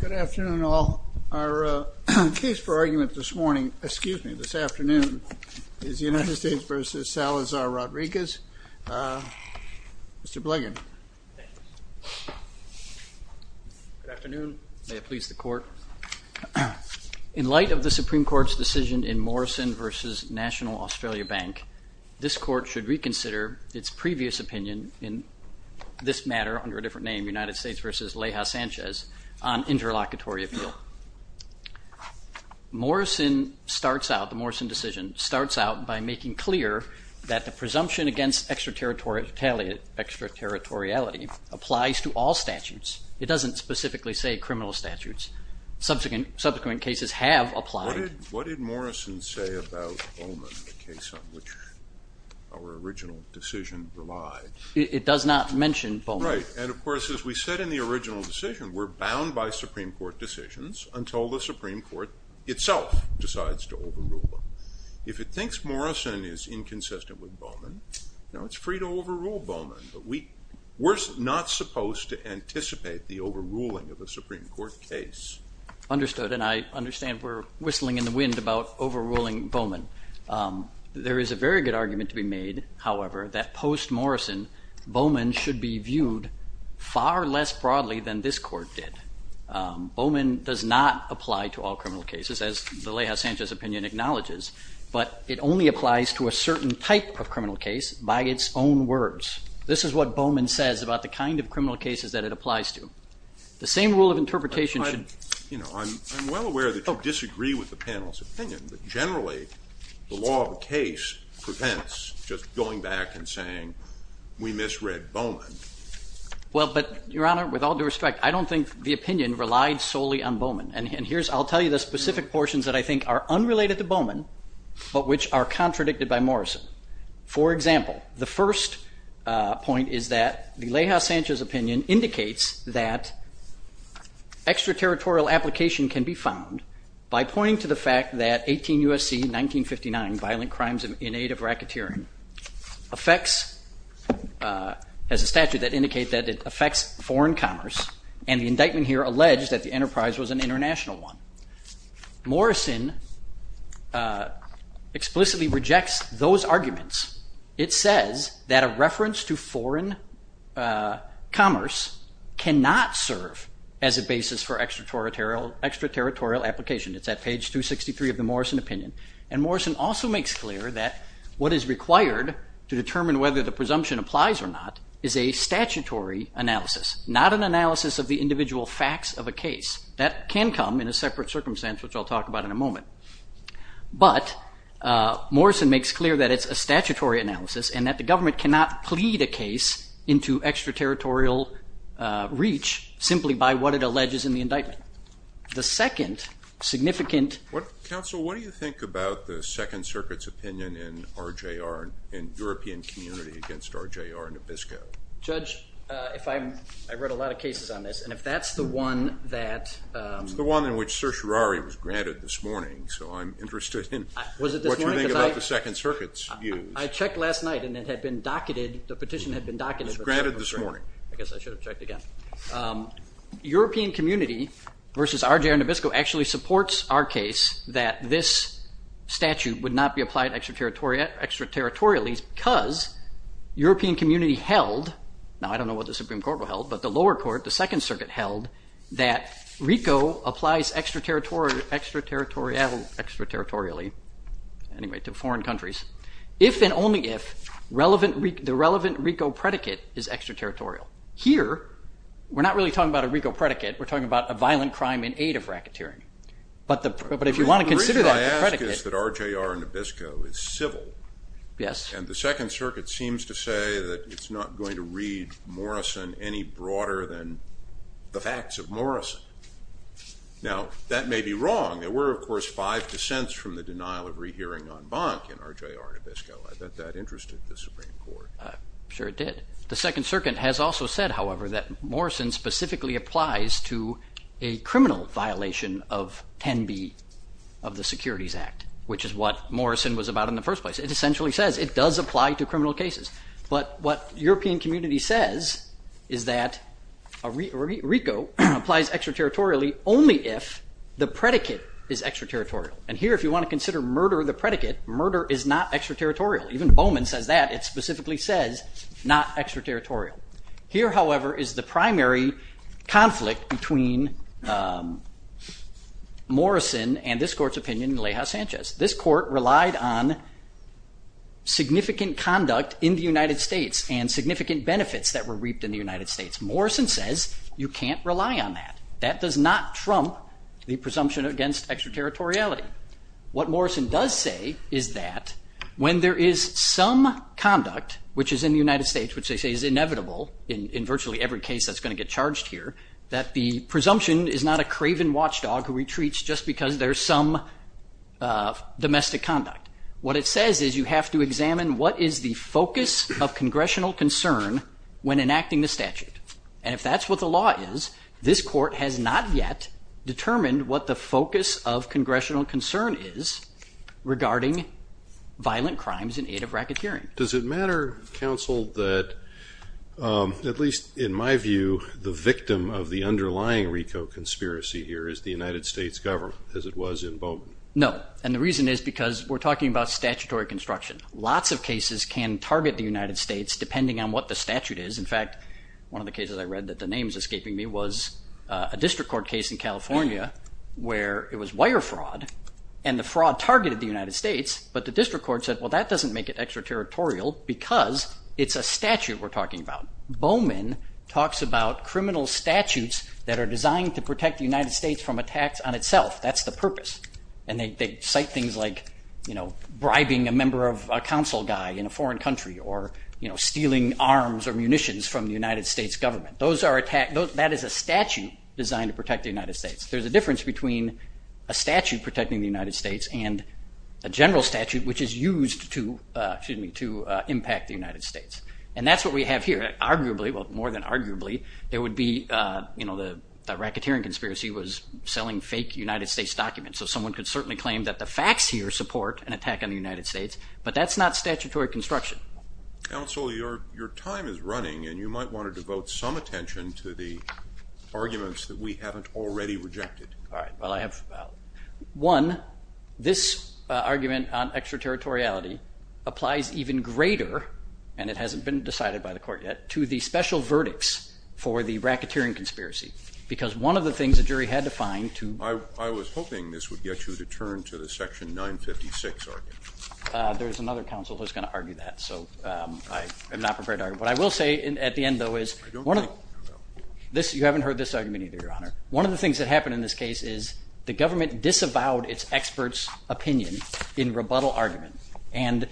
Good afternoon all. Our case for argument this morning, excuse me, this afternoon is United States v. Salazar-Rodriquez. Mr. Blagan. May it please the Court. In light of the Supreme Court's decision in Morrison v. National Australia Bank, this Court should reconsider its previous opinion in this matter under a different name, United States v. Leija Sanchez, on interlocutory appeal. Morrison starts out, the Morrison decision, starts out by making clear that the presumption against extraterritoriality applies to all statutes. It doesn't specifically say criminal statutes. Subsequent cases have applied. What did Morrison say about Bowman, the case on which our original decision relies? It does not mention Bowman. Right, and of course as we said in the original decision, we're bound by Supreme Court decisions until the Supreme Court itself decides to overrule them. If it thinks Morrison is inconsistent with Bowman, now it's free to overrule Bowman, but we're not supposed to anticipate the overruling of a Supreme Court case. Understood, and I understand we're whistling in the wind about overruling Bowman. There is a very good argument to be made, however, that post-Morrison, Bowman should be viewed far less broadly than this Court did. Bowman does not apply to all criminal cases, as the Leija Sanchez opinion acknowledges, but it only applies to a certain type of criminal case by its own words. This is what Bowman says about the kind of criminal cases that it applies to. I'm well aware that you disagree with the panel's opinion, but generally the law of the case prevents just going back and saying we misread Bowman. Well, but Your Honor, with all due respect, I don't think the opinion relied solely on Bowman, and here's, I'll tell you the specific portions that I think are unrelated to Bowman, but which are contradicted by Morrison. For example, the first point is that the Leija Sanchez opinion indicates that extraterritorial application can be found by pointing to the fact that 18 U.S.C. 1959, Violent Crimes in Aid of Racketeering, affects, as established by the Supreme Court, the criminal case of Bowman. This is a statute that indicates that it affects foreign commerce, and the indictment here alleged that the enterprise was an international one. Morrison explicitly rejects those arguments. It says that a reference to foreign commerce cannot serve as a basis for extraterritorial application. It's at page 263 of the Morrison opinion. And Morrison also makes clear that what is required to determine whether the presumption applies or not is a statutory analysis, not an analysis of the individual facts of a case. That can come in a separate circumstance, which I'll talk about in a moment. But Morrison makes clear that it's a statutory analysis and that the government cannot plead a case into extraterritorial reach simply by what it alleges in the indictment. The second significant... Counsel, what do you think about the Second Circuit's opinion in RJR and European Community against RJR and Abisko? Judge, if I'm... I've read a lot of cases on this, and if that's the one that... It's the one in which certiorari was granted this morning, so I'm interested in what you think about the Second Circuit's views. I checked last night and it had been docketed, the petition had been docketed... It was granted this morning. I guess I should have checked again. European Community versus RJR and Abisko actually supports our case that this statute would not be applied extraterritorially because European Community held... applies extraterritorially to foreign countries if and only if the relevant RICO predicate is extraterritorial. Here, we're not really talking about a RICO predicate, we're talking about a violent crime in aid of racketeering. But if you want to consider that as a predicate... The reason I ask is that RJR and Abisko is civil. Yes. And the Second Circuit seems to say that it's not going to read Morrison any broader than the facts of Morrison. Now, that may be wrong. There were, of course, five dissents from the denial of rehearing en banc in RJR and Abisko. I bet that interested the Supreme Court. Sure it did. The Second Circuit has also said, however, that Morrison specifically applies to a criminal violation of 10b of the Securities Act, which is what Morrison was about in the first place. It essentially says it does apply to criminal cases. But what European Community says is that RICO applies extraterritorially only if the predicate is extraterritorial. And here, if you want to consider murder the predicate, murder is not extraterritorial. Even Bowman says that. It specifically says not extraterritorial. Here, however, is the primary conflict between Morrison and this court's opinion, Leija Sanchez. This court relied on significant conduct in the United States and significant benefits that were reaped in the United States. Morrison says you can't rely on that. That does not trump the presumption against extraterritoriality. What Morrison does say is that when there is some conduct, which is in the United States, which they say is inevitable in virtually every case that's going to get charged here, that the presumption is not a craven watchdog who retreats just because there's some domestic conduct. What it says is you have to examine what is the focus of congressional concern when enacting the statute. And if that's what the law is, this court has not yet determined what the focus of congressional concern is regarding violent crimes in aid of racketeering. Does it matter, counsel, that at least in my view the victim of the underlying RICO conspiracy here is the United States government as it was in Bowman? No. And the reason is because we're talking about statutory construction. Lots of cases can target the United States depending on what the statute is. In fact, one of the cases I read that the name is escaping me was a district court case in California where it was wire fraud and the fraud targeted the United States, but the district court said, well, that doesn't make it extraterritorial because it's a statute we're talking about. Bowman talks about criminal statutes that are designed to protect the United States from attacks on itself. That's the purpose. And they cite things like bribing a member of a council guy in a foreign country or stealing arms or munitions from the United States government. That is a statute designed to protect the United States. There's a difference between a statute protecting the United States and a general statute which is used to impact the United States. And that's what we have here. Arguably, well, more than arguably, there would be the racketeering conspiracy was selling fake United States documents. So someone could certainly claim that the facts here support an attack on the United States, but that's not statutory construction. Counsel, your time is running, and you might want to devote some attention to the arguments that we haven't already rejected. All right. Well, I have one. This argument on extraterritoriality applies even greater, and it hasn't been decided by the court yet, to the special verdicts for the racketeering conspiracy because one of the things the jury had to find to. I was hoping this would get you to turn to the Section 956 argument. There's another counsel who's going to argue that, so I am not prepared to argue. What I will say at the end, though, is. You haven't heard this argument either, Your Honor. One of the things that happened in this case is the government disavowed its expert's opinion in rebuttal argument, and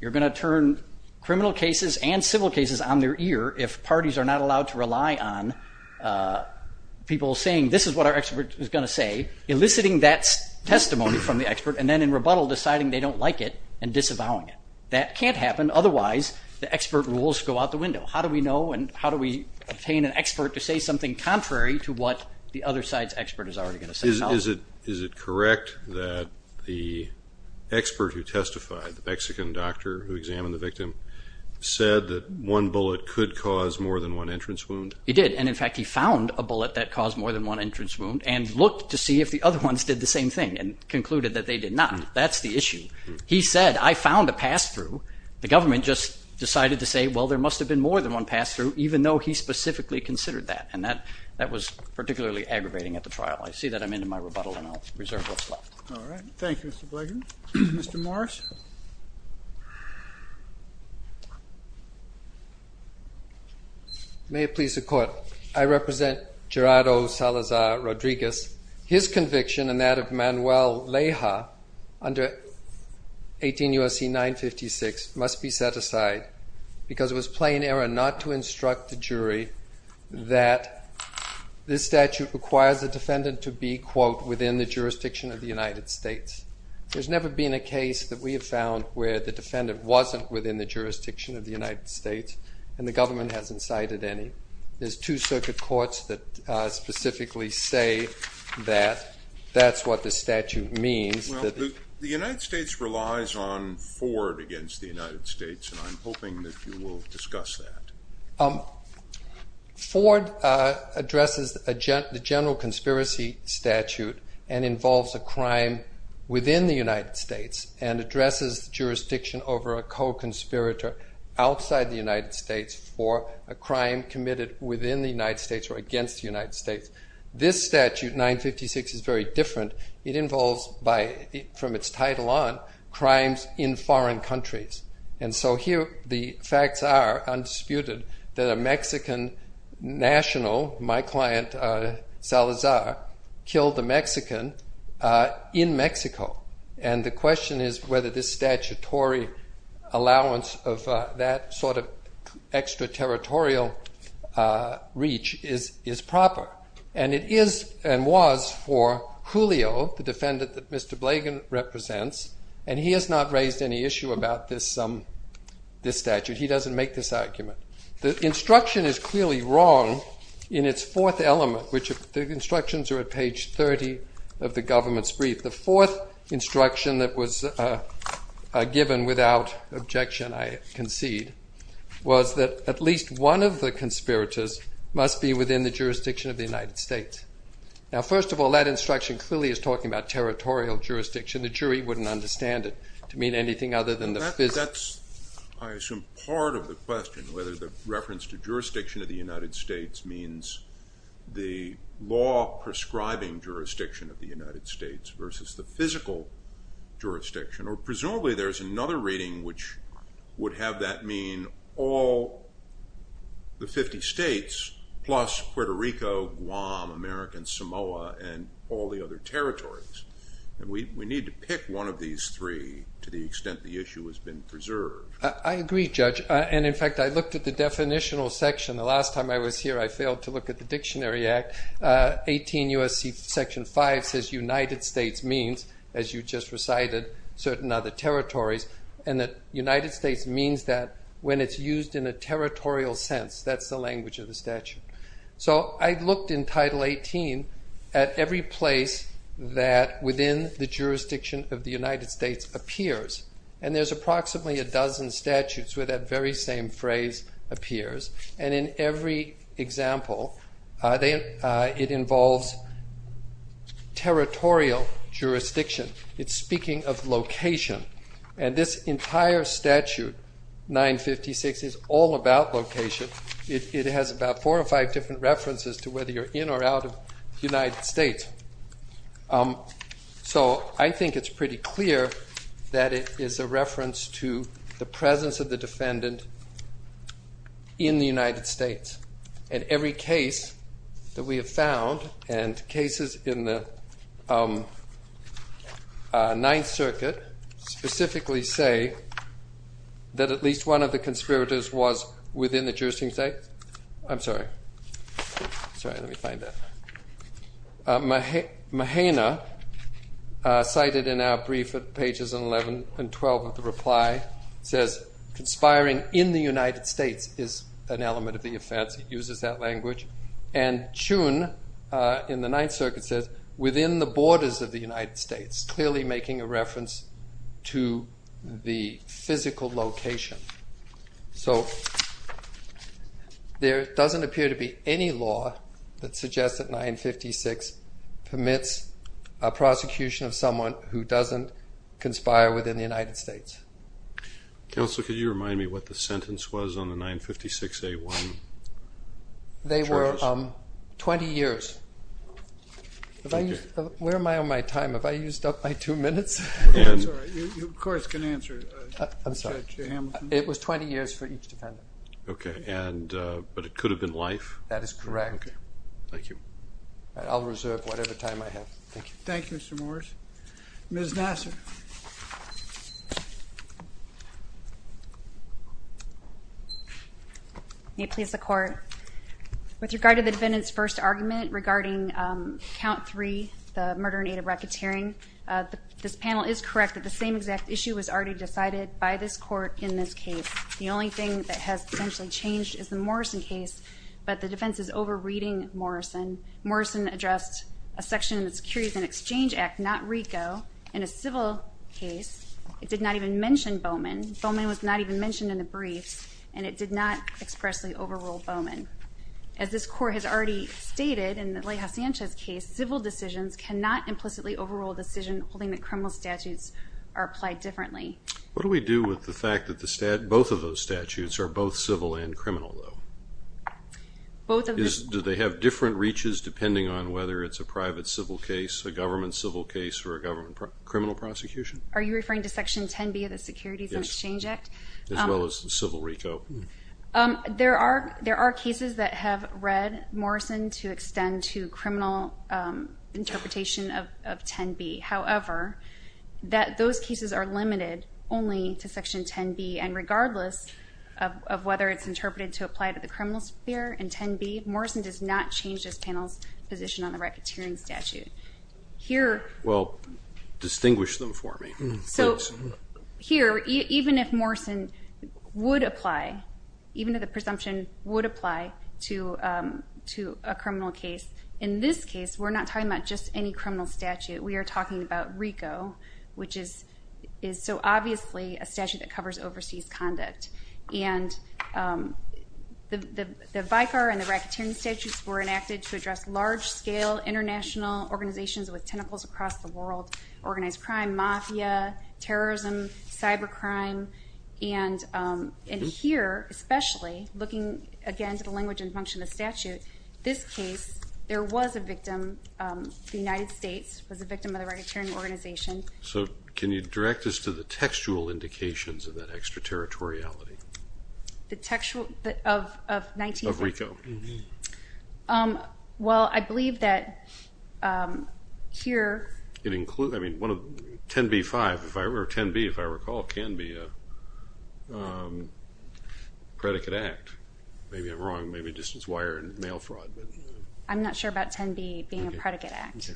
you're going to turn criminal cases and civil cases on their ear if parties are not allowed to rely on people saying, this is what our expert is going to say, eliciting that testimony from the expert, and then in rebuttal deciding they don't like it and disavowing it. That can't happen. Otherwise, the expert rules go out the window. How do we know and how do we obtain an expert to say something contrary to what the other side's expert is already going to say? Is it correct that the expert who testified, the Mexican doctor who examined the victim, said that one bullet could cause more than one entrance wound? He did, and in fact, he found a bullet that caused more than one entrance wound and looked to see if the other ones did the same thing and concluded that they did not. That's the issue. He said, I found a pass-through. The government just decided to say, well, there must have been more than one pass-through, even though he specifically considered that, and that was particularly aggravating at the trial. I see that I'm into my rebuttal, and I'll reserve what's left. All right. Thank you, Mr. Blagan. Mr. Morris? May it please the Court. I represent Gerardo Salazar Rodriguez. His conviction and that of Manuel Leija under 18 U.S.C. 956 must be set aside because it was plain error not to instruct the jury that this statute requires the defendant to be, quote, within the jurisdiction of the United States. There's never been a case that we have found where the defendant wasn't within the jurisdiction of the United States, and the government hasn't cited any. There's two circuit courts that specifically say that. That's what the statute means. The United States relies on Ford against the United States, and I'm hoping that you will discuss that. Ford addresses the general conspiracy statute and involves a crime within the United States and addresses the jurisdiction over a co-conspirator outside the United States for a crime committed within the United States or against the United States. This statute, 956, is very different. It involves, from its title on, crimes in foreign countries. And so here the facts are undisputed that a Mexican national, my client Salazar, killed a Mexican in Mexico. And the question is whether this statutory allowance of that sort of extraterritorial reach is proper. And it is and was for Julio, the defendant that Mr. Blagan represents, and he has not raised any issue about this statute. He doesn't make this argument. The instruction is clearly wrong in its fourth element, which the instructions are at page 30 of the government's brief. The fourth instruction that was given without objection, I concede, was that at least one of the conspirators must be within the jurisdiction of the United States. Now, first of all, that instruction clearly is talking about territorial jurisdiction. The jury wouldn't understand it to mean anything other than the physical. That's, I assume, part of the question, whether the reference to jurisdiction of the United States means the law prescribing jurisdiction of the United States versus the physical jurisdiction. Or presumably there's another reading which would have that mean all the 50 states plus Puerto Rico, Guam, America, and Samoa, and all the other territories. And we need to pick one of these three to the extent the issue has been preserved. I agree, Judge. And, in fact, I looked at the definitional section. The last time I was here I failed to look at the Dictionary Act. 18 U.S.C. Section 5 says United States means, as you just recited, certain other territories. And that United States means that when it's used in a territorial sense. That's the language of the statute. So I looked in Title 18 at every place that within the jurisdiction of the United States appears. And there's approximately a dozen statutes where that very same phrase appears. And in every example it involves territorial jurisdiction. It's speaking of location. And this entire statute, 956, is all about location. It has about four or five different references to whether you're in or out of the United States. So I think it's pretty clear that it is a reference to the presence of the defendant in the United States. And every case that we have found, and cases in the Ninth Circuit, specifically say that at least one of the conspirators was within the jurisdiction of the United States. I'm sorry. Sorry, let me find that. Mahena, cited in our brief at pages 11 and 12 of the reply, says, conspiring in the United States is an element of the offense. It uses that language. And Chun, in the Ninth Circuit, says, within the borders of the United States, clearly making a reference to the physical location. So there doesn't appear to be any law that suggests that 956 permits a prosecution of someone who doesn't conspire within the United States. Counsel, could you remind me what the sentence was on the 956A1 charges? They were 20 years. Where am I on my time? Have I used up my two minutes? I'm sorry. You, of course, can answer, Judge Hamilton. It was 20 years for each defendant. Okay. But it could have been life? That is correct. Okay. Thank you. I'll reserve whatever time I have. Thank you. Thank you, Mr. Morris. Ms. Nassar. May it please the Court. With regard to the defendant's first argument regarding Count 3, the murder in aid of racketeering, this panel is correct that the same exact issue was already decided by this Court in this case. The only thing that has essentially changed is the Morrison case, but the defense is over-reading Morrison. Morrison addressed a section of the Securities and Exchange Act, not RICO. In a civil case, it did not even mention Bowman. Bowman was not even mentioned in the briefs, and it did not expressly overrule Bowman. As this Court has already stated in the Leija Sanchez case, civil decisions cannot implicitly overrule a decision holding that criminal statutes are applied differently. What do we do with the fact that both of those statutes are both civil and criminal, though? Do they have different reaches depending on whether it's a private civil case, a government civil case, or a government criminal prosecution? Are you referring to Section 10B of the Securities and Exchange Act? Yes, as well as the civil RICO. There are cases that have read Morrison to extend to criminal interpretation of 10B. However, those cases are limited only to Section 10B, and regardless of whether it's interpreted to apply to the criminal sphere in 10B, Morrison does not change this panel's position on the racketeering statute. Well, distinguish them for me, please. Here, even if Morrison would apply, even if the presumption would apply to a criminal case, in this case we're not talking about just any criminal statute. We are talking about RICO, which is so obviously a statute that covers overseas conduct. And the VICAR and the racketeering statutes were enacted to address large-scale international organizations with tentacles across the world, organized crime, mafia, terrorism, cybercrime. And here, especially, looking, again, to the language and function of the statute, this case there was a victim. The United States was a victim of the racketeering organization. So can you direct us to the textual indications of that extraterritoriality? The textual of 19- Of RICO. Well, I believe that here- It includes, I mean, 10B-5, or 10B, if I recall, can be a predicate act. Maybe I'm wrong. Maybe it just was wire and mail fraud. I'm not sure about 10B being a predicate act.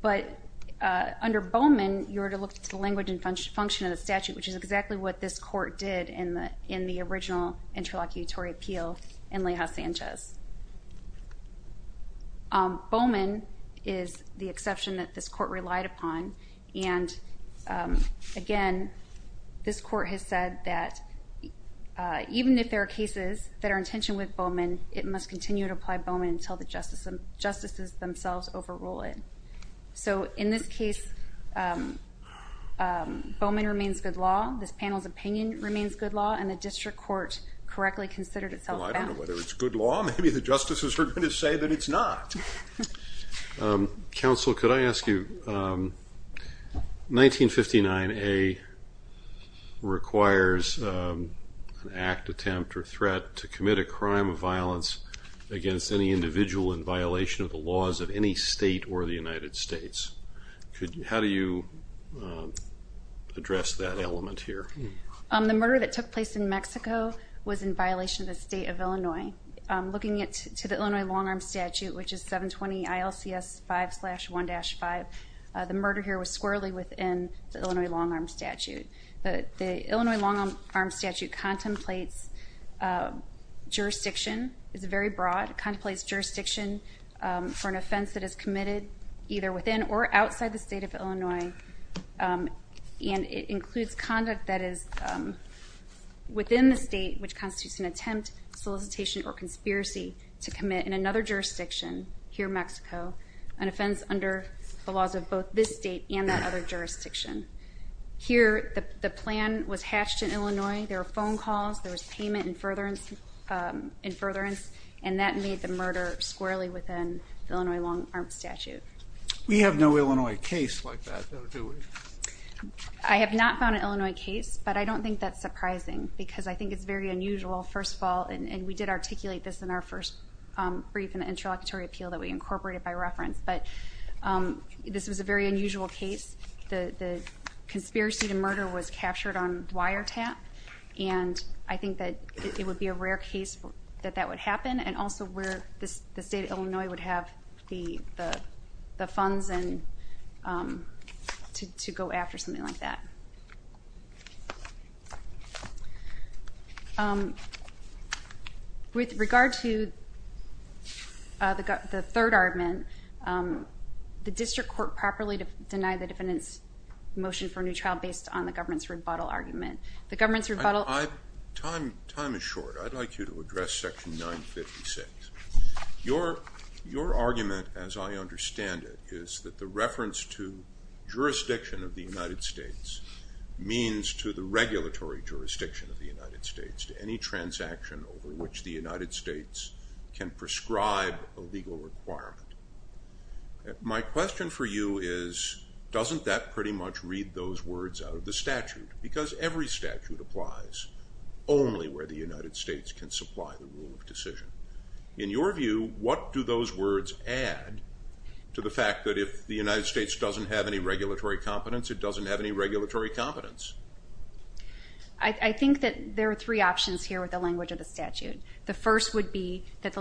But under Bowman, you were to look at the language and function of the statute, which is exactly what this court did in the original interlocutory appeal in Leija-Sanchez. Bowman is the exception that this court relied upon. And, again, this court has said that even if there are cases that are in tension with Bowman, it must continue to apply Bowman until the justices themselves overrule it. So in this case, Bowman remains good law. This panel's opinion remains good law. And the district court correctly considered itself bound. Well, I don't know whether it's good law. Maybe the justices are going to say that it's not. Counsel, could I ask you, 1959A requires an act, attempt, or threat to commit a crime of violence against any individual in violation of the laws of any state or the United States. How do you address that element here? The murder that took place in Mexico was in violation of the state of Illinois. Looking to the Illinois long-arm statute, which is 720 ILCS 5-1-5, the murder here was squarely within the Illinois long-arm statute. The Illinois long-arm statute contemplates jurisdiction. It's very broad. It contemplates jurisdiction for an offense that is committed either within or outside the state of Illinois, and it includes conduct that is within the state, which constitutes an attempt, solicitation, or conspiracy to commit in another jurisdiction, here Mexico, an offense under the laws of both this state and that other jurisdiction. Here the plan was hatched in Illinois. There were phone calls. There was payment in furtherance. And that made the murder squarely within the Illinois long-arm statute. We have no Illinois case like that, though, do we? I have not found an Illinois case, but I don't think that's surprising, because I think it's very unusual, first of all, and we did articulate this in our first brief in the interlocutory appeal that we incorporated by reference, but this was a very unusual case. The conspiracy to murder was captured on wiretap, and I think that it would be a rare case that that would happen, and also where the state of Illinois would have the funds to go after something like that. With regard to the third argument, the district court properly denied the defendant's motion for a new trial based on the government's rebuttal argument. Time is short. I'd like you to address Section 956. Your argument, as I understand it, is that the reference to jurisdiction of the United States means to the regulatory jurisdiction of the United States, to any transaction over which the United States can prescribe a legal requirement. My question for you is, doesn't that pretty much read those words out of the statute? Because every statute applies only where the United States can supply the rule of decision. In your view, what do those words add to the fact that if the United States doesn't have any regulatory competence, it doesn't have any regulatory competence? I think that there are three options here with the language of the statute. The first would be that...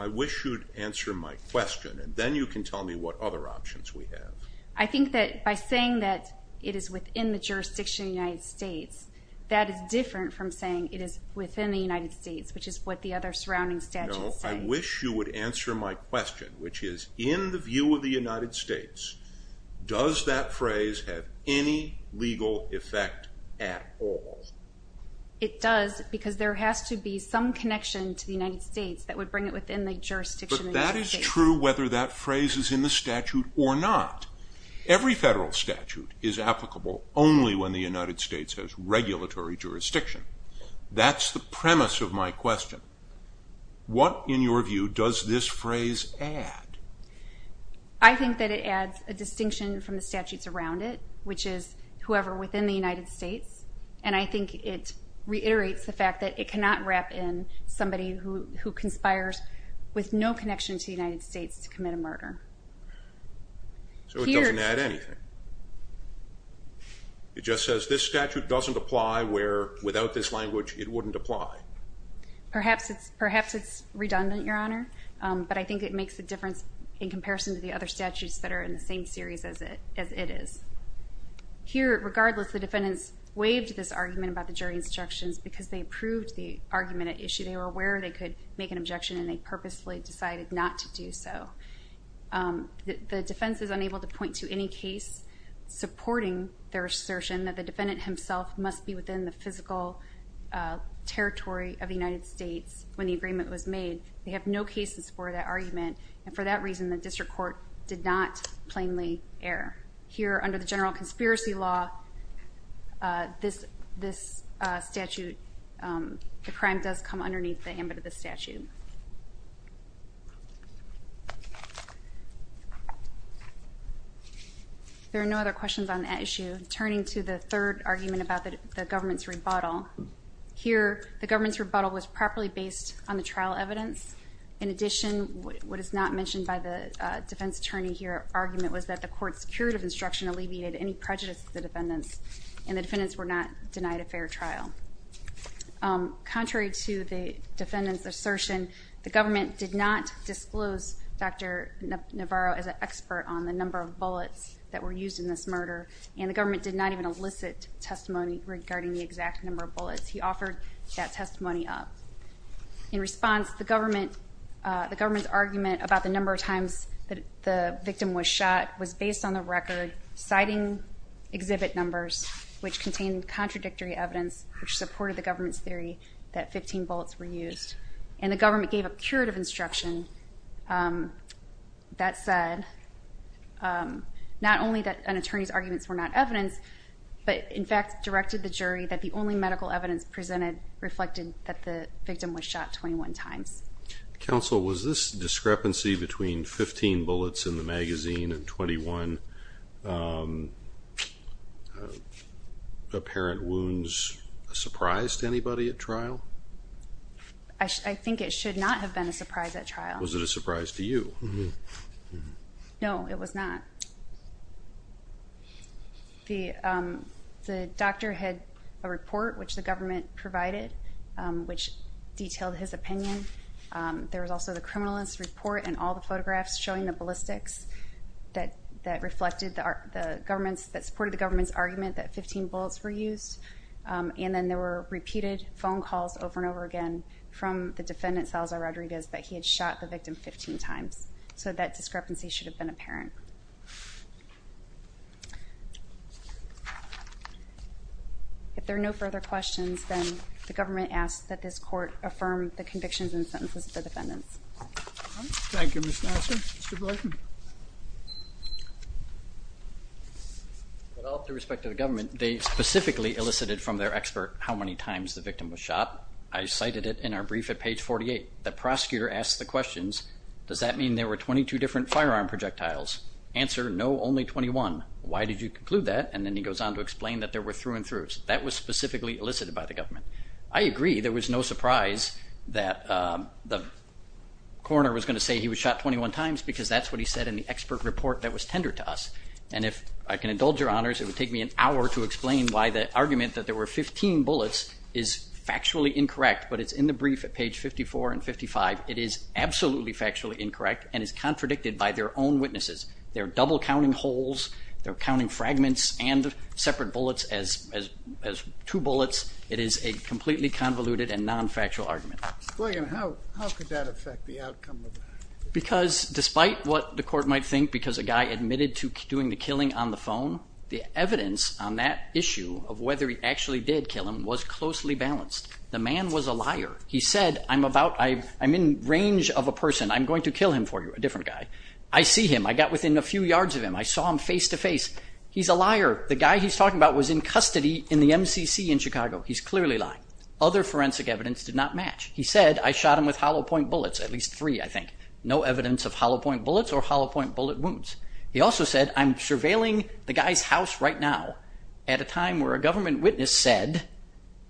I wish you'd answer my question, and then you can tell me what other options we have. I think that by saying that it is within the jurisdiction of the United States, that is different from saying it is within the United States, which is what the other surrounding statutes say. No, I wish you would answer my question, which is, in the view of the United States, does that phrase have any legal effect at all? It does, because there has to be some connection to the United States that would bring it within the jurisdiction of the United States. That is true whether that phrase is in the statute or not. Every federal statute is applicable only when the United States has regulatory jurisdiction. That's the premise of my question. What, in your view, does this phrase add? I think that it adds a distinction from the statutes around it, which is whoever within the United States, and I think it reiterates the fact that it cannot wrap in somebody who conspires with no connection to the United States to commit a murder. So it doesn't add anything. It just says this statute doesn't apply where without this language it wouldn't apply. Perhaps it's redundant, Your Honor, but I think it makes a difference in comparison to the other statutes that are in the same series as it is. Here, regardless, the defendants waived this argument about the jury instructions because they approved the argument at issue. They were aware they could make an objection, and they purposefully decided not to do so. The defense is unable to point to any case supporting their assertion that the defendant himself must be within the physical territory of the United States when the agreement was made. They have no cases for that argument, and for that reason the district court did not plainly err. Here, under the general conspiracy law, this statute, the crime does come underneath the ambit of the statute. There are no other questions on that issue. Turning to the third argument about the government's rebuttal, here the government's rebuttal was properly based on the trial evidence. In addition, what is not mentioned by the defense attorney here, the argument was that the court's curative instruction alleviated any prejudice of the defendants, and the defendants were not denied a fair trial. Contrary to the defendant's assertion, the government did not disclose Dr. Navarro as an expert on the number of bullets that were used in this murder, and the government did not even elicit testimony regarding the exact number of bullets. He offered that testimony up. In response, the government's argument about the number of times the victim was shot was based on the record citing exhibit numbers, which contained contradictory evidence which supported the government's theory that 15 bullets were used, and the government gave a curative instruction that said not only that an attorney's arguments were not evidence, but in fact directed the jury that the only medical evidence presented reflected that the victim was shot 21 times. Counsel, was this discrepancy between 15 bullets in the magazine and 21 apparent wounds a surprise to anybody at trial? I think it should not have been a surprise at trial. Was it a surprise to you? No, it was not. The doctor had a report which the government provided which detailed his opinion. There was also the criminalist's report and all the photographs showing the ballistics that supported the government's argument that 15 bullets were used, and then there were repeated phone calls over and over again from the defendant, Salazar Rodriguez, that he had shot the victim 15 times, so that discrepancy should have been apparent. If there are no further questions, then the government asks that this court affirm the convictions and sentences of the defendants. Thank you, Ms. Nelson. Mr. Blyton. With all due respect to the government, they specifically elicited from their expert how many times the victim was shot. I cited it in our brief at page 48. The prosecutor asked the questions, does that mean there were 22 different firearm projectiles? Answer, no, only 21. Why did you conclude that? And then he goes on to explain that there were through and throughs. That was specifically elicited by the government. I agree there was no surprise that the coroner was going to say he was shot 21 times because that's what he said in the expert report that was tendered to us. And if I can indulge your honors, it would take me an hour to explain why the argument that there were 15 bullets is factually incorrect, but it's in the brief at page 54 and 55. It is absolutely factually incorrect and is contradicted by their own witnesses. They're double-counting holes. They're counting fragments and separate bullets as two bullets. It is a completely convoluted and non-factual argument. Mr. Blyton, how could that affect the outcome of that? Because despite what the court might think, because a guy admitted to doing the killing on the phone, the evidence on that issue of whether he actually did kill him was closely balanced. The man was a liar. He said, I'm in range of a person. I'm going to kill him for you, a different guy. I see him. I got within a few yards of him. I saw him face-to-face. He's a liar. The guy he's talking about was in custody in the MCC in Chicago. He's clearly lying. Other forensic evidence did not match. He said, I shot him with hollow-point bullets, at least three, I think. No evidence of hollow-point bullets or hollow-point bullet wounds. He also said, I'm surveilling the guy's house right now at a time where a government witness said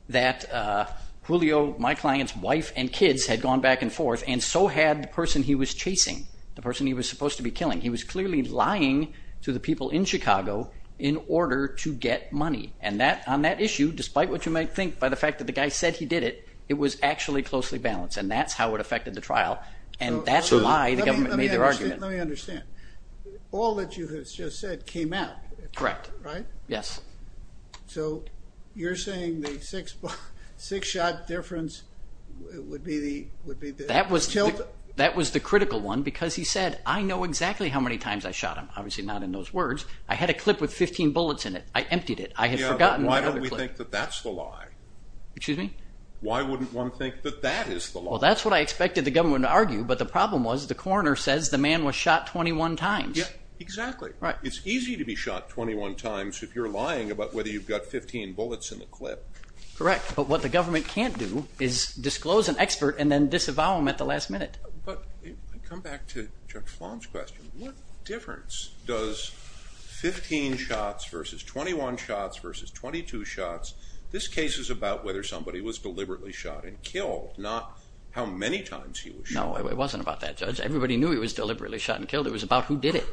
that Julio, my client's wife and kids, had gone back and forth, and so had the person he was chasing, the person he was supposed to be killing. He was clearly lying to the people in Chicago in order to get money. And on that issue, despite what you might think by the fact that the guy said he did it, it was actually closely balanced, and that's how it affected the trial, and that's why the government made their argument. Let me understand. All that you have just said came out. Correct. Right? Yes. So you're saying the six-shot difference would be the tilt? That was the critical one because he said, I know exactly how many times I shot him. Obviously not in those words. I had a clip with 15 bullets in it. I emptied it. I had forgotten about the clip. Yeah, but why don't we think that that's the lie? Why wouldn't one think that that is the lie? Well, that's what I expected the government to argue, but the problem was the coroner says the man was shot 21 times. Yeah, exactly. Right. It's easy to be shot 21 times if you're lying about whether you've got 15 bullets in the clip. Correct, but what the government can't do is disclose an expert and then disavow him at the last minute. But come back to Judge Flom's question. What difference does 15 shots versus 21 shots versus 22 shots? This case is about whether somebody was deliberately shot and killed, not how many times he was shot. No, it wasn't about that, Judge. Everybody knew he was deliberately shot and killed. It was about who did it.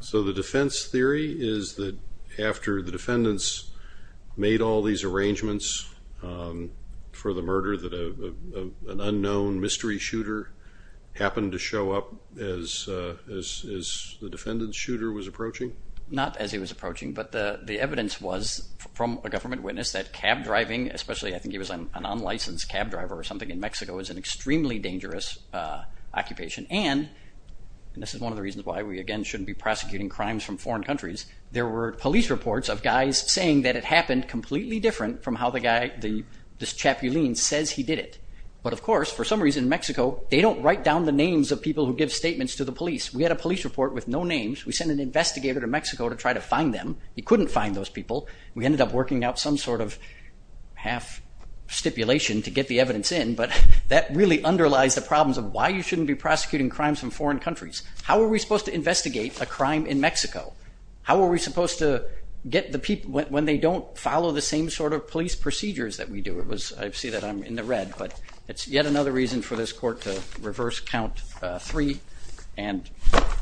So the defense theory is that after the defendants made all these arrangements for the murder that an unknown mystery shooter happened to show up as the defendant's shooter was approaching? Not as he was approaching, but the evidence was from a government witness that cab driving, especially I think he was an unlicensed cab driver or something in Mexico, is an extremely dangerous occupation. And this is one of the reasons why we, again, shouldn't be prosecuting crimes from foreign countries. There were police reports of guys saying that it happened completely different from how this chaplain says he did it. But, of course, for some reason in Mexico, they don't write down the names of people who give statements to the police. We had a police report with no names. We sent an investigator to Mexico to try to find them. He couldn't find those people. We ended up working out some sort of half stipulation to get the evidence in, but that really underlies the problems of why you shouldn't be prosecuting crimes from foreign countries. How are we supposed to investigate a crime in Mexico? How are we supposed to get the people when they don't follow the same sort of police procedures that we do? I see that I'm in the red, but it's yet another reason for this court to reverse count three and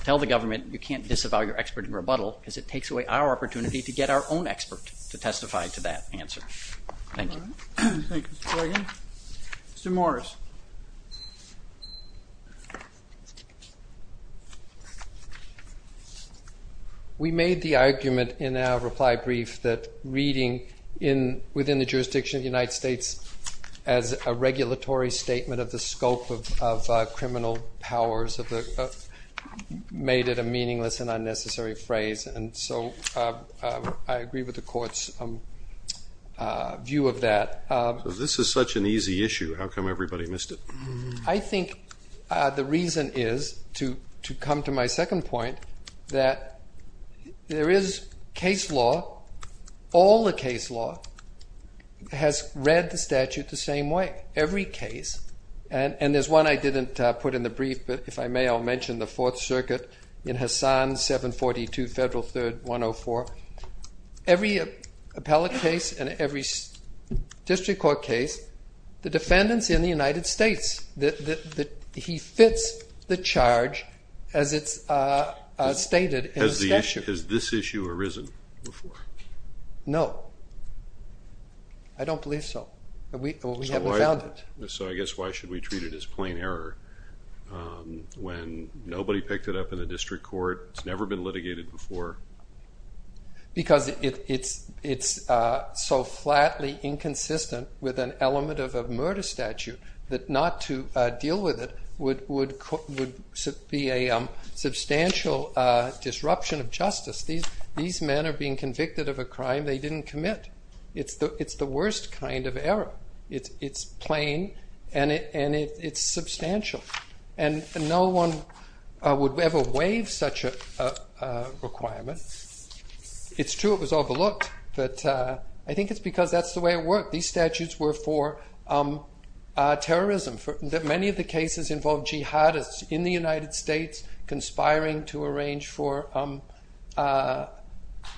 tell the government you can't disavow your expert in rebuttal because it takes away our opportunity to get our own expert to testify to that answer. Thank you. Mr. Morgan. Mr. Morris. We made the argument in our reply brief that reading within the jurisdiction of the United States as a regulatory statement of the scope of criminal powers made it a meaningless and unnecessary phrase. And so I agree with the court's view of that. This is such an easy issue. How come everybody missed it? I think the reason is, to come to my second point, that there is case law, all the case law has read the statute the same way, every case. And there's one I didn't put in the brief, but if I may, I'll mention the Fourth Circuit in Hassan 742 Federal 3rd 104. Every appellate case and every district court case, the defendants in the United States, he fits the charge as it's stated in the statute. Has this issue arisen before? No. I don't believe so. We haven't found it. So I guess why should we treat it as plain error when nobody picked it up in the district court? It's never been litigated before. Because it's so flatly inconsistent with an element of a murder statute that not to deal with it would be a substantial disruption of justice. These men are being convicted of a crime they didn't commit. It's the worst kind of error. It's plain and it's substantial. And no one would ever waive such a requirement. It's true it was overlooked, but I think it's because that's the way it worked. These statutes were for terrorism. Many of the cases involved jihadists in the United States conspiring to arrange for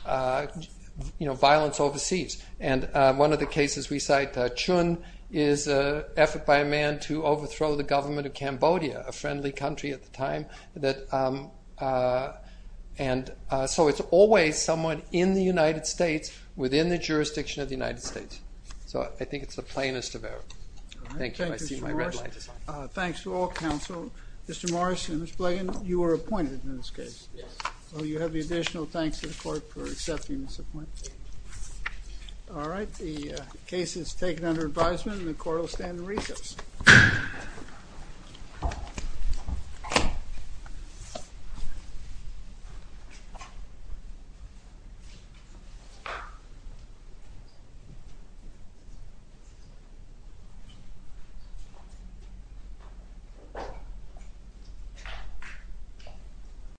violence overseas. And one of the cases we cite, Chun, is an effort by a man to overthrow the government of Cambodia, a friendly country at the time. And so it's always someone in the United States within the jurisdiction of the United States. So I think it's the plainest of errors. Thank you. I see my red light. Thanks to all counsel. Mr. Morris and Ms. Blagan, you were appointed in this case. You have the additional thanks to the court for accepting this appointment. All right. The case is taken under advisement and the court will stand in recess.